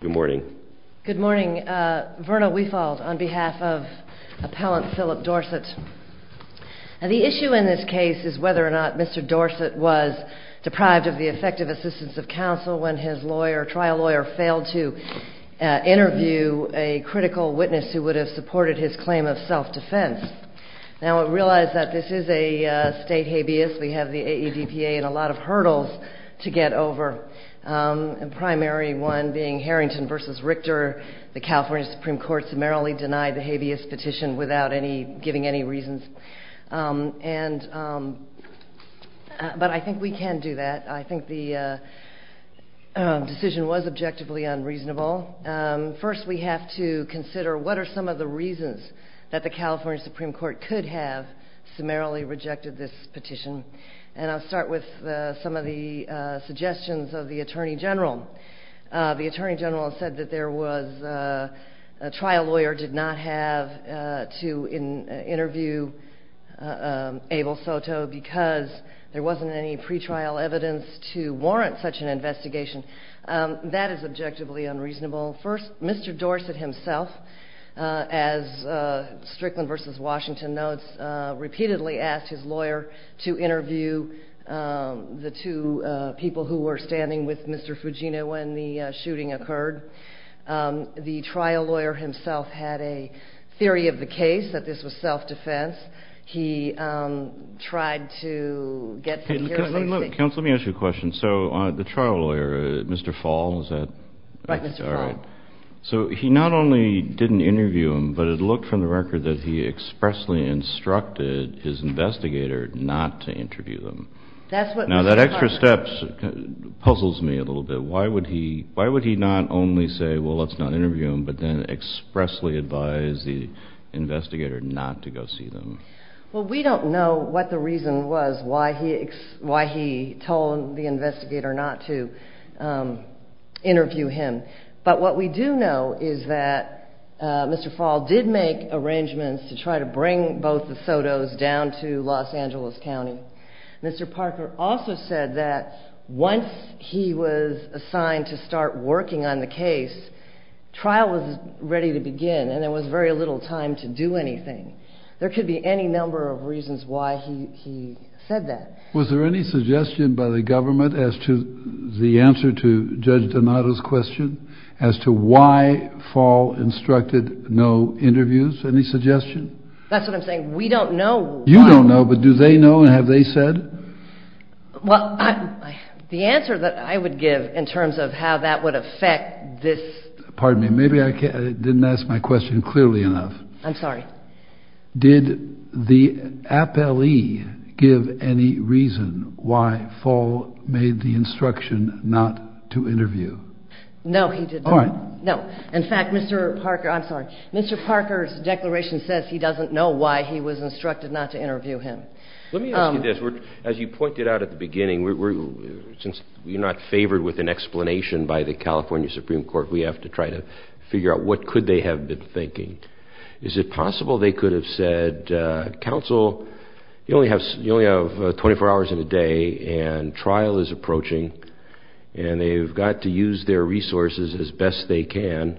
Good morning. Good morning. Verna Weefald on behalf of Appellant Philip Dorsett. The issue in this case is whether or not Mr. Dorsett was deprived of the effective assistance of counsel when his trial lawyer failed to interview a critical witness who would have supported his claim of self-defense. Now, I realize that this is a state habeas. We have the AEDPA and a lot of hurdles to get over, the primary one being Harrington v. Richter. The California Supreme Court summarily denied the habeas petition without giving any reasons. But I think we can do that. I think the decision was objectively unreasonable. First, we have to consider what are some of the reasons that the California Supreme Court could have summarily rejected this petition. And I'll start with some of the suggestions of the Attorney General. The Attorney General said that there was a trial lawyer did not have to interview Abel Soto because there wasn't any pretrial evidence to warrant such an investigation. That is objectively unreasonable. First, Mr. Dorsett himself, as Strickland v. Washington notes, repeatedly asked his lawyer to interview the two people who were standing with Mr. Fugino when the shooting occurred. The trial lawyer himself had a theory of the case that this was self-defense. He tried to get some hearsay. Counsel, let me ask you a question. So the trial lawyer, Mr. Fall, is that right? Right, Mr. Fall. All right. So he not only didn't interview him, but it looked from the record that he expressly instructed his investigator not to interview them. Now, that extra step puzzles me a little bit. Why would he not only say, well, let's not interview them, but then expressly advise the investigator not to go see them? Well, we don't know what the reason was why he told the investigator not to interview him. But what we do know is that Mr. Fall did make arrangements to try to bring both the Sotos down to Los Angeles County. Mr. Parker also said that once he was assigned to start working on the case, trial was ready to begin and there was very little time to do anything. There could be any number of reasons why he said that. Was there any suggestion by the government as to the answer to Judge Donato's question as to why Fall instructed no interviews? Any suggestion? That's what I'm saying. We don't know. You don't know, but do they know and have they said? Well, the answer that I would give in terms of how that would affect this. Pardon me. Maybe I didn't ask my question clearly enough. I'm sorry. Did the appellee give any reason why Fall made the instruction not to interview? No, he did not. All right. No. In fact, Mr. Parker's declaration says he doesn't know why he was instructed not to interview him. Let me ask you this. As you pointed out at the beginning, since you're not favored with an explanation by the California Supreme Court, we have to try to figure out what could they have been thinking. Is it possible they could have said, counsel, you only have 24 hours in a day and trial is approaching, and they've got to use their resources as best they can,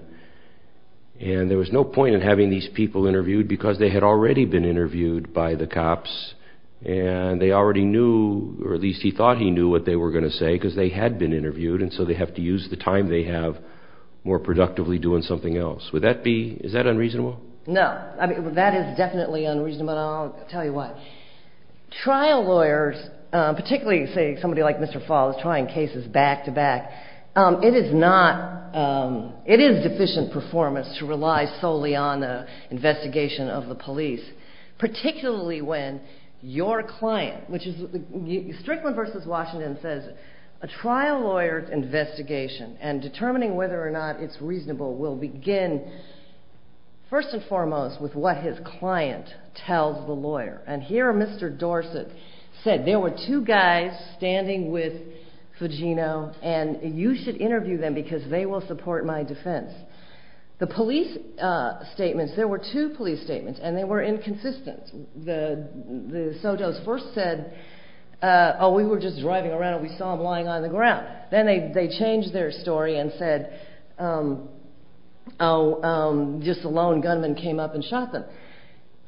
and there was no point in having these people interviewed because they had already been interviewed by the cops, and they already knew, or at least he thought he knew what they were going to say because they had been interviewed, and so they have to use the time they have more productively doing something else. Would that be unreasonable? No. That is definitely unreasonable, and I'll tell you why. Trial lawyers, particularly, say, somebody like Mr. Fall is trying cases back to back, it is deficient performance to rely solely on the investigation of the police, particularly when your client, which is, Strickland v. Washington says, a trial lawyer's investigation and determining whether or not it's reasonable will begin, first and foremost, with what his client tells the lawyer, and here Mr. Dorsett said, there were two guys standing with Fugino, and you should interview them because they will support my defense. The police statements, there were two police statements, and they were inconsistent. The Soto's first said, oh, we were just driving around and we saw him lying on the ground. Then they changed their story and said, oh, just a lone gunman came up and shot them.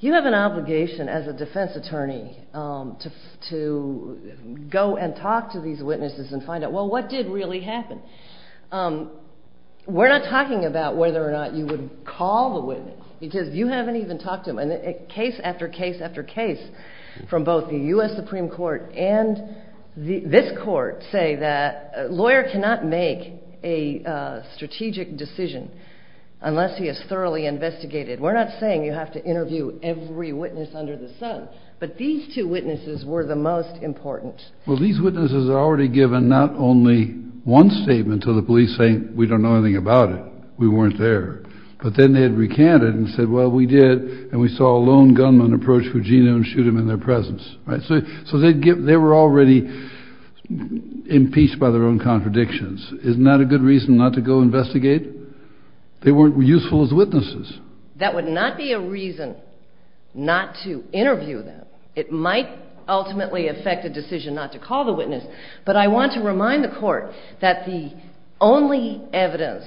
You have an obligation as a defense attorney to go and talk to these witnesses and find out, well, what did really happen? We're not talking about whether or not you would call the witness because you haven't even talked to them, and case after case after case from both the U.S. Supreme Court and this court say that a lawyer cannot make a strategic decision unless he has thoroughly investigated. We're not saying you have to interview every witness under the sun, but these two witnesses were the most important. Well, these witnesses had already given not only one statement to the police saying we don't know anything about it, we weren't there, but then they had recanted and said, well, we did, and we saw a lone gunman approach Fugino and shoot him in their presence. So they were already impeached by their own contradictions. Isn't that a good reason not to go investigate? They weren't useful as witnesses. That would not be a reason not to interview them. It might ultimately affect a decision not to call the witness, but I want to remind the court that the only evidence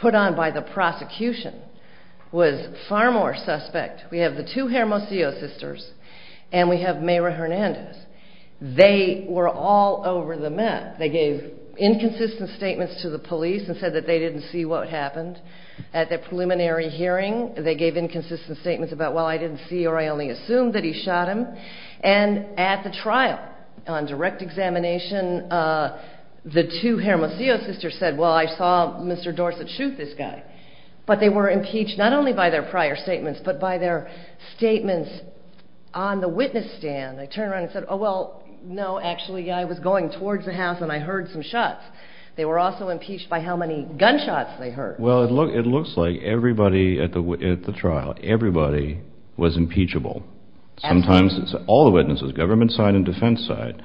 put on by the prosecution was far more suspect. We have the two Hermosillo sisters and we have Mayra Hernandez. They were all over the map. They gave inconsistent statements to the police and said that they didn't see what happened. At the preliminary hearing, they gave inconsistent statements about, well, I didn't see or I only assumed that he shot him. And at the trial, on direct examination, the two Hermosillo sisters said, well, I saw Mr. Dorsett shoot this guy. But they were impeached not only by their prior statements, but by their statements on the witness stand. They turned around and said, oh, well, no, actually I was going towards the house and I heard some shots. They were also impeached by how many gunshots they heard. Well, it looks like everybody at the trial, everybody was impeachable. Sometimes all the witnesses, government side and defense side.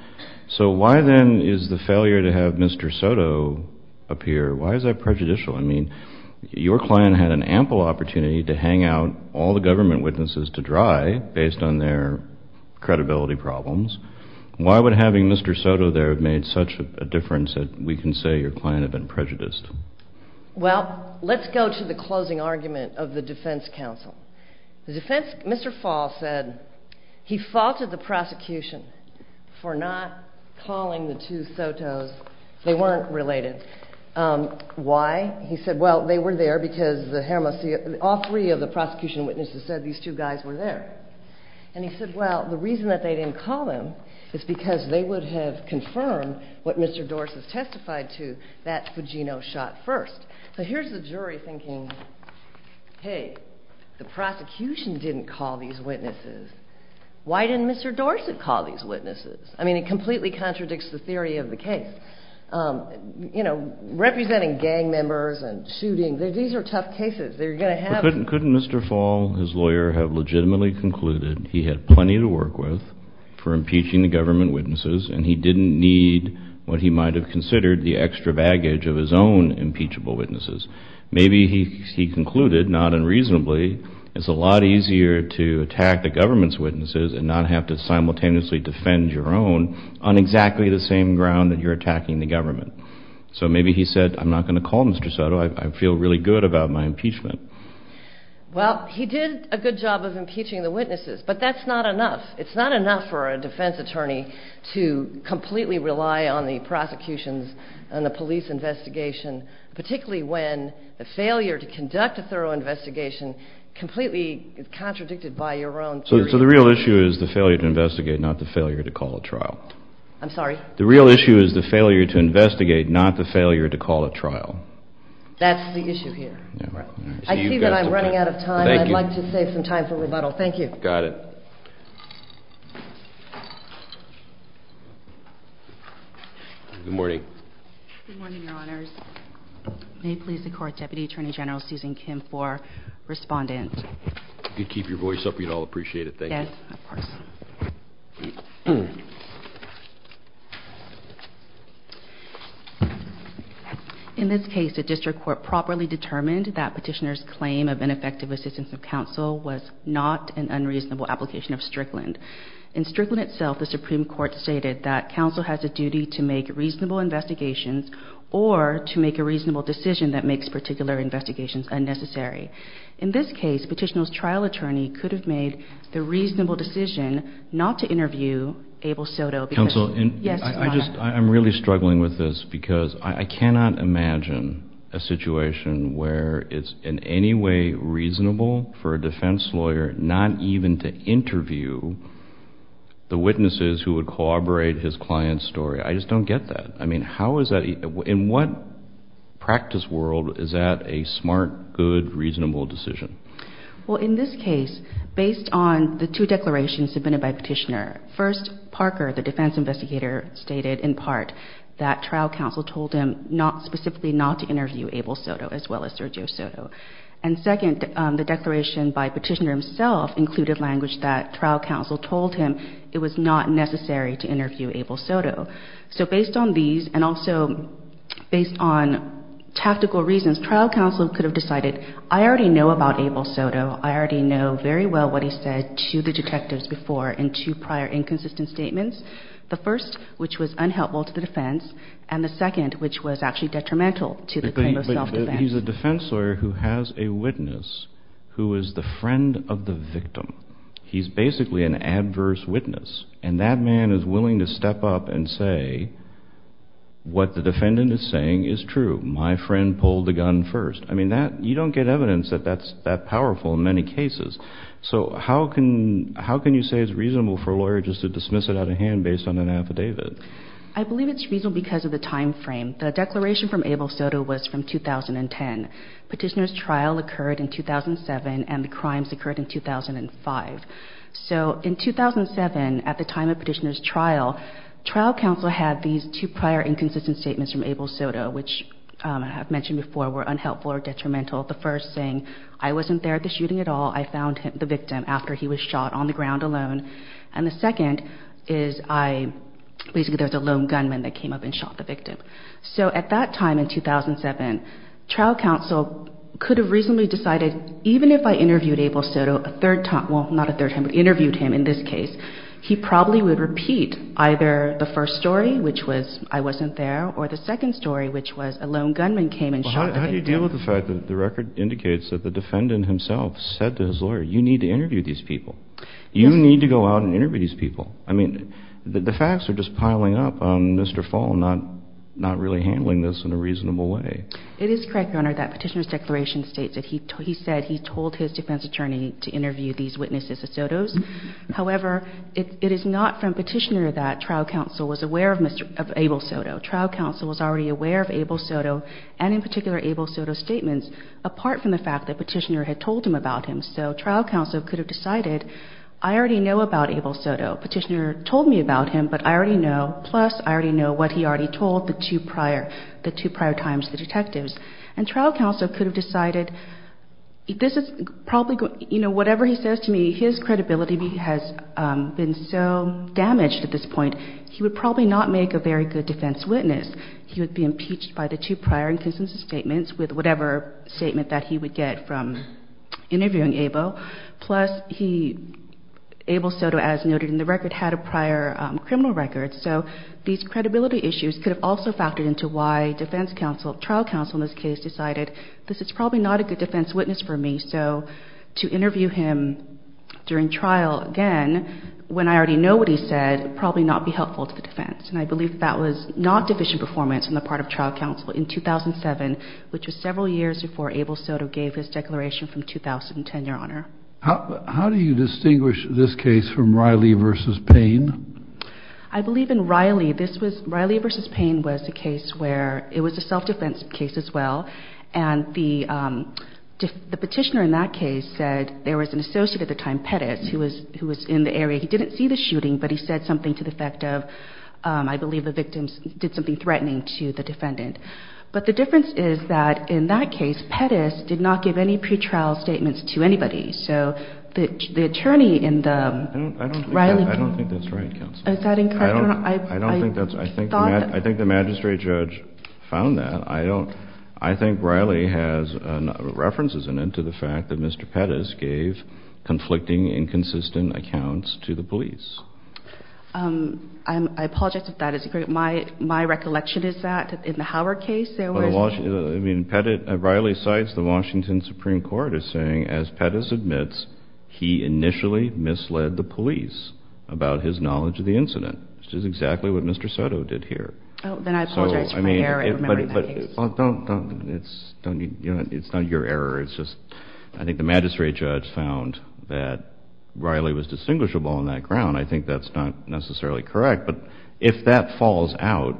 So why then is the failure to have Mr. Soto appear, why is that prejudicial? I mean, your client had an ample opportunity to hang out all the government witnesses to dry based on their credibility problems. Why would having Mr. Soto there have made such a difference that we can say your client had been prejudiced? Well, let's go to the closing argument of the defense counsel. The defense, Mr. Fall said he faulted the prosecution for not calling the two Sotos. They weren't related. Why? He said, well, they were there because the Hermosillo, all three of the prosecution witnesses said these two guys were there. And he said, well, the reason that they didn't call them is because they would have confirmed what Mr. Dorsett testified to, that Fugino shot first. So here's the jury thinking, hey, the prosecution didn't call these witnesses. Why didn't Mr. Dorsett call these witnesses? I mean, it completely contradicts the theory of the case. You know, representing gang members and shooting, these are tough cases. Couldn't Mr. Fall, his lawyer, have legitimately concluded he had plenty to work with for impeaching the government witnesses and he didn't need what he might have considered the extra baggage of his own impeachable witnesses? Maybe he concluded, not unreasonably, it's a lot easier to attack the government's witnesses and not have to simultaneously defend your own on exactly the same ground that you're attacking the government. So maybe he said, I'm not going to call Mr. Soto, I feel really good about my impeachment. Well, he did a good job of impeaching the witnesses, but that's not enough. It's not enough for a defense attorney to completely rely on the prosecutions and the police investigation, particularly when the failure to conduct a thorough investigation completely is contradicted by your own theory. So the real issue is the failure to investigate, not the failure to call a trial. I'm sorry? The real issue is the failure to investigate, not the failure to call a trial. That's the issue here. I see that I'm running out of time. Thank you. I'd like to save some time for rebuttal. Thank you. Got it. Good morning. Good morning, Your Honors. May it please the Court, Deputy Attorney General Susan Kim for Respondent. Thank you. Yes, of course. In this case, the District Court properly determined that Petitioner's claim of ineffective assistance of counsel was not an unreasonable application of Strickland. In Strickland itself, the Supreme Court stated that counsel has a duty to make reasonable investigations or to make a reasonable decision that makes particular investigations unnecessary. In this case, Petitioner's trial attorney could have made the reasonable decision not to interview Abel Soto because I'm really struggling with this because I cannot imagine a situation where it's in any way reasonable for a defense lawyer not even to interview the witnesses who would corroborate his client's story. I just don't get that. I mean, how is that... in what practice world is that a smart, good, reasonable decision? Well, in this case, based on the two declarations submitted by Petitioner, first, Parker, the defense investigator, stated in part that trial counsel told him not... specifically not to interview Abel Soto as well as Sergio Soto. And second, the declaration by Petitioner himself included language that trial counsel told him it was not necessary to interview Abel Soto. So based on these and also based on tactical reasons, trial counsel could have decided, I already know about Abel Soto. I already know very well what he said to the detectives before in two prior inconsistent statements. The first, which was unhelpful to the defense. And the second, which was actually detrimental to the claim of self-defense. He's a defense lawyer who has a witness who is the friend of the victim. He's basically an adverse witness. And that man is willing to step up and say what the defendant is saying is true. My friend pulled the gun first. I mean, you don't get evidence that that's that powerful in many cases. So how can you say it's reasonable for a lawyer just to dismiss it out of hand based on an affidavit? I believe it's reasonable because of the time frame. The declaration from Abel Soto was from 2010. Petitioner's trial occurred in 2007, and the crimes occurred in 2005. So in 2007, at the time of Petitioner's trial, trial counsel had these two prior inconsistent statements from Abel Soto, which I have mentioned before were unhelpful or detrimental. The first saying, I wasn't there at the shooting at all. I found the victim after he was shot on the ground alone. And the second is I, basically there was a lone gunman that came up and shot the victim. So at that time in 2007, trial counsel could have reasonably decided, even if I interviewed Abel Soto a third time, well, not a third time, but interviewed him in this case, he probably would repeat either the first story, which was I wasn't there, or the second story, which was a lone gunman came and shot the victim. Well, how do you deal with the fact that the record indicates that the defendant himself said to his lawyer, you need to interview these people. You need to go out and interview these people. I mean, the facts are just piling up on Mr. Fallon, not really handling this in a reasonable way. It is correct, Your Honor, that Petitioner's declaration states that he said he told his defense attorney to interview these witnesses, the Sotos. However, it is not from Petitioner that trial counsel was aware of Abel Soto. Trial counsel was already aware of Abel Soto, and in particular, Abel Soto's statements, apart from the fact that Petitioner had told him about him. So trial counsel could have decided, I already know about Abel Soto. Petitioner told me about him, but I already know, plus I already know what he already told the two prior times, the detectives. And trial counsel could have decided, this is probably going to, you know, whatever he says to me, his credibility has been so damaged at this point, he would probably not make a very good defense witness. He would be impeached by the two prior inconsistent statements with whatever statement that he would get from interviewing Abel. Plus he, Abel Soto, as noted in the record, had a prior criminal record. So these credibility issues could have also factored into why defense counsel, trial counsel in this case, decided this is probably not a good defense witness for me. So to interview him during trial, again, when I already know what he said, probably not be helpful to the defense. And I believe that was not division performance on the part of trial counsel in 2007, which was several years before Abel Soto gave his declaration from 2010, Your Honor. How do you distinguish this case from Riley v. Payne? I believe in Riley, this was, Riley v. Payne was a case where it was a self-defense case as well. And the petitioner in that case said there was an associate at the time, Pettis, who was in the area. He didn't see the shooting, but he said something to the effect of, I believe the victim did something threatening to the defendant. But the difference is that in that case, Pettis did not give any pretrial statements to anybody. So the attorney in the Riley case. I don't think that's right, counsel. Is that incorrect, Your Honor? I don't think that's right. I think the magistrate judge found that. I think Riley has references in it to the fact that Mr. Pettis gave conflicting, inconsistent accounts to the police. I apologize if that is incorrect. My recollection is that in the Howard case there was. I mean, Riley cites the Washington Supreme Court as saying, as Pettis admits, he initially misled the police about his knowledge of the incident, which is exactly what Mr. Soto did here. Then I apologize for my error in remembering that case. It's not your error. It's just I think the magistrate judge found that Riley was distinguishable on that ground. I think that's not necessarily correct. But if that falls out,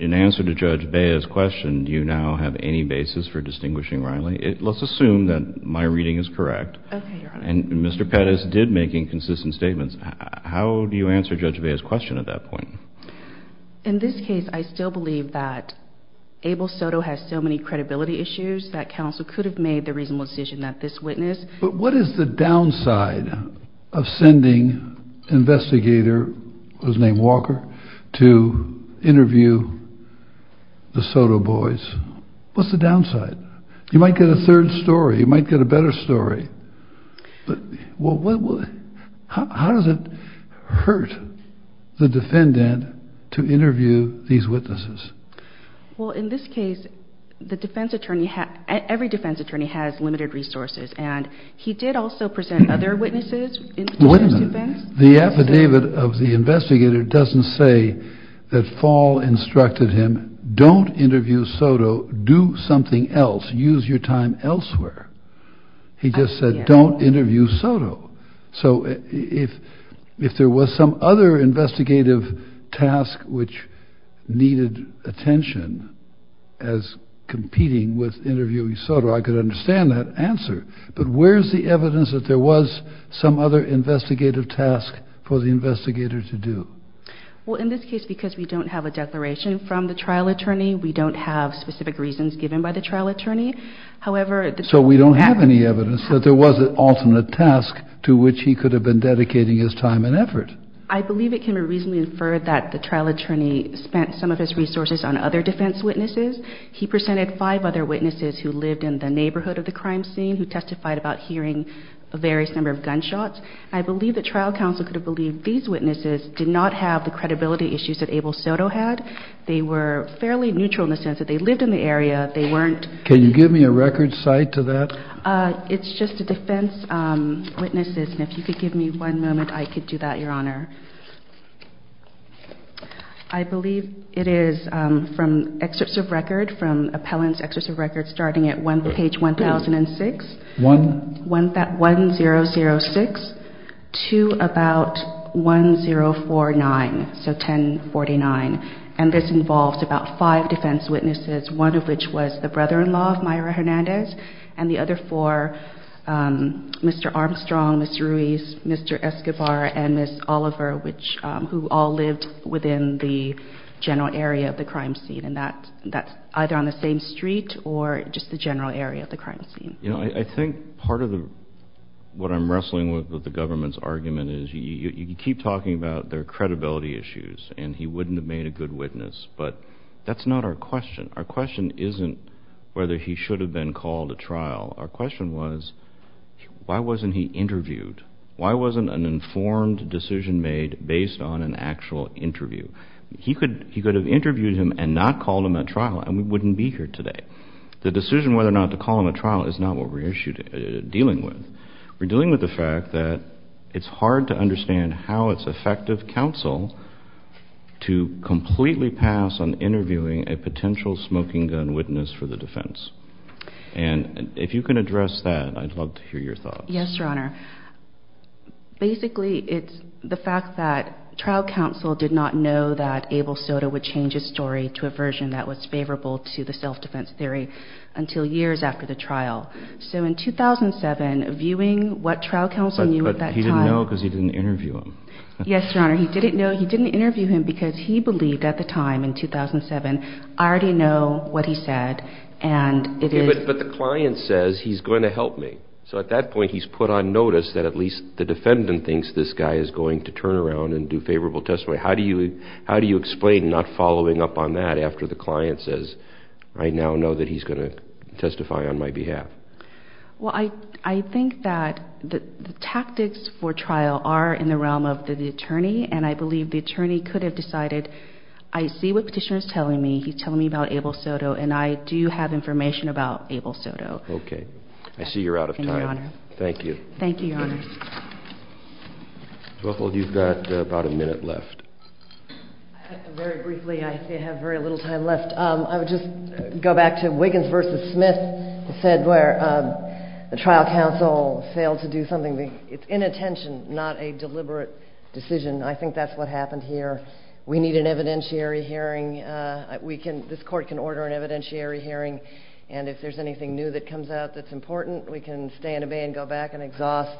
in answer to Judge Bea's question, do you now have any basis for distinguishing Riley? Let's assume that my reading is correct. Okay, Your Honor. And Mr. Pettis did make inconsistent statements. How do you answer Judge Bea's question at that point? In this case, I still believe that Abel Soto has so many credibility issues that counsel could have made the reasonable decision not to witness. But what is the downside of sending an investigator who's named Walker to interview the Soto boys? What's the downside? You might get a third story. You might get a better story. But how does it hurt the defendant to interview these witnesses? Well, in this case, the defense attorney, every defense attorney has limited resources. And he did also present other witnesses. Wait a minute. The affidavit of the investigator doesn't say that Fall instructed him, don't interview Soto. Do something else. Use your time elsewhere. He just said don't interview Soto. So if there was some other investigative task which needed attention as competing with interviewing Soto, I could understand that answer. But where's the evidence that there was some other investigative task for the investigator to do? Well, in this case, because we don't have a declaration from the trial attorney, we don't have specific reasons given by the trial attorney. So we don't have any evidence that there was an alternate task to which he could have been dedicating his time and effort. I believe it can be reasonably inferred that the trial attorney spent some of his resources on other defense witnesses. He presented five other witnesses who lived in the neighborhood of the crime scene who testified about hearing a various number of gunshots. I believe the trial counsel could have believed these witnesses did not have the credibility issues that Abel Soto had. They were fairly neutral in the sense that they lived in the area. They weren't. Can you give me a record cite to that? It's just the defense witnesses. And if you could give me one moment, I could do that, Your Honor. I believe it is from excerpts of record, from appellant's excerpts of record starting at page 1006. One. 1006 to about 1049, so 1049. And this involves about five defense witnesses, one of which was the brother-in-law of Mayra Hernandez, and the other four, Mr. Armstrong, Mr. Ruiz, Mr. Escobar, and Ms. Oliver, who all lived within the general area of the crime scene. And that's either on the same street or just the general area of the crime scene. You know, I think part of what I'm wrestling with with the government's argument is you keep talking about their credibility issues, and he wouldn't have made a good witness, but that's not our question. Our question isn't whether he should have been called to trial. Our question was why wasn't he interviewed? Why wasn't an informed decision made based on an actual interview? He could have interviewed him and not called him at trial, and we wouldn't be here today. The decision whether or not to call him at trial is not what we're dealing with. We're dealing with the fact that it's hard to understand how it's effective counsel to completely pass on interviewing a potential smoking gun witness for the defense. And if you can address that, I'd love to hear your thoughts. Yes, Your Honor. Basically, it's the fact that trial counsel did not know that Abel Soto would change his story to a version that was favorable to the self-defense theory until years after the trial. So in 2007, viewing what trial counsel knew at that time... But he didn't know because he didn't interview him. Yes, Your Honor. He didn't know. He didn't interview him because he believed at the time in 2007, I already know what he said, and it is... But the client says he's going to help me. So at that point, he's put on notice that at least the defendant thinks this guy is going to turn around and do favorable testimony. How do you explain not following up on that after the client says, I now know that he's going to testify on my behalf? Well, I think that the tactics for trial are in the realm of the attorney, and I believe the attorney could have decided, I see what Petitioner is telling me. He's telling me about Abel Soto, and I do have information about Abel Soto. Okay. I see you're out of time. Thank you, Your Honor. Thank you. Thank you, Your Honor. Jocelyn, you've got about a minute left. Very briefly, I have very little time left. I would just go back to Wiggins v. Smith, who said where the trial counsel failed to do something. It's inattention, not a deliberate decision. I think that's what happened here. We need an evidentiary hearing. This court can order an evidentiary hearing, and if there's anything new that comes out that's important, we can stay in a bay and go back and exhaust.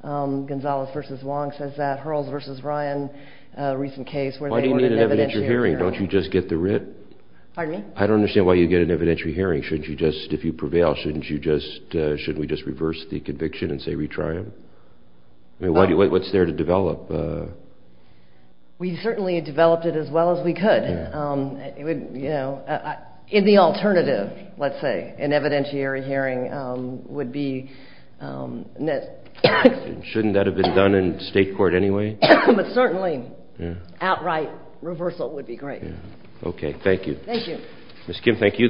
Gonzalez v. Wong says that. Hurls v. Ryan, a recent case where they ordered an evidentiary hearing. Why do you need an evidentiary hearing? Don't you just get the writ? Pardon me? I don't understand why you get an evidentiary hearing. If you prevail, shouldn't we just reverse the conviction and say retry him? What's there to develop? We certainly developed it as well as we could. In the alternative, let's say, an evidentiary hearing would be net. Shouldn't that have been done in state court anyway? But certainly outright reversal would be great. Okay. Thank you. Thank you. Ms. Kim, thank you.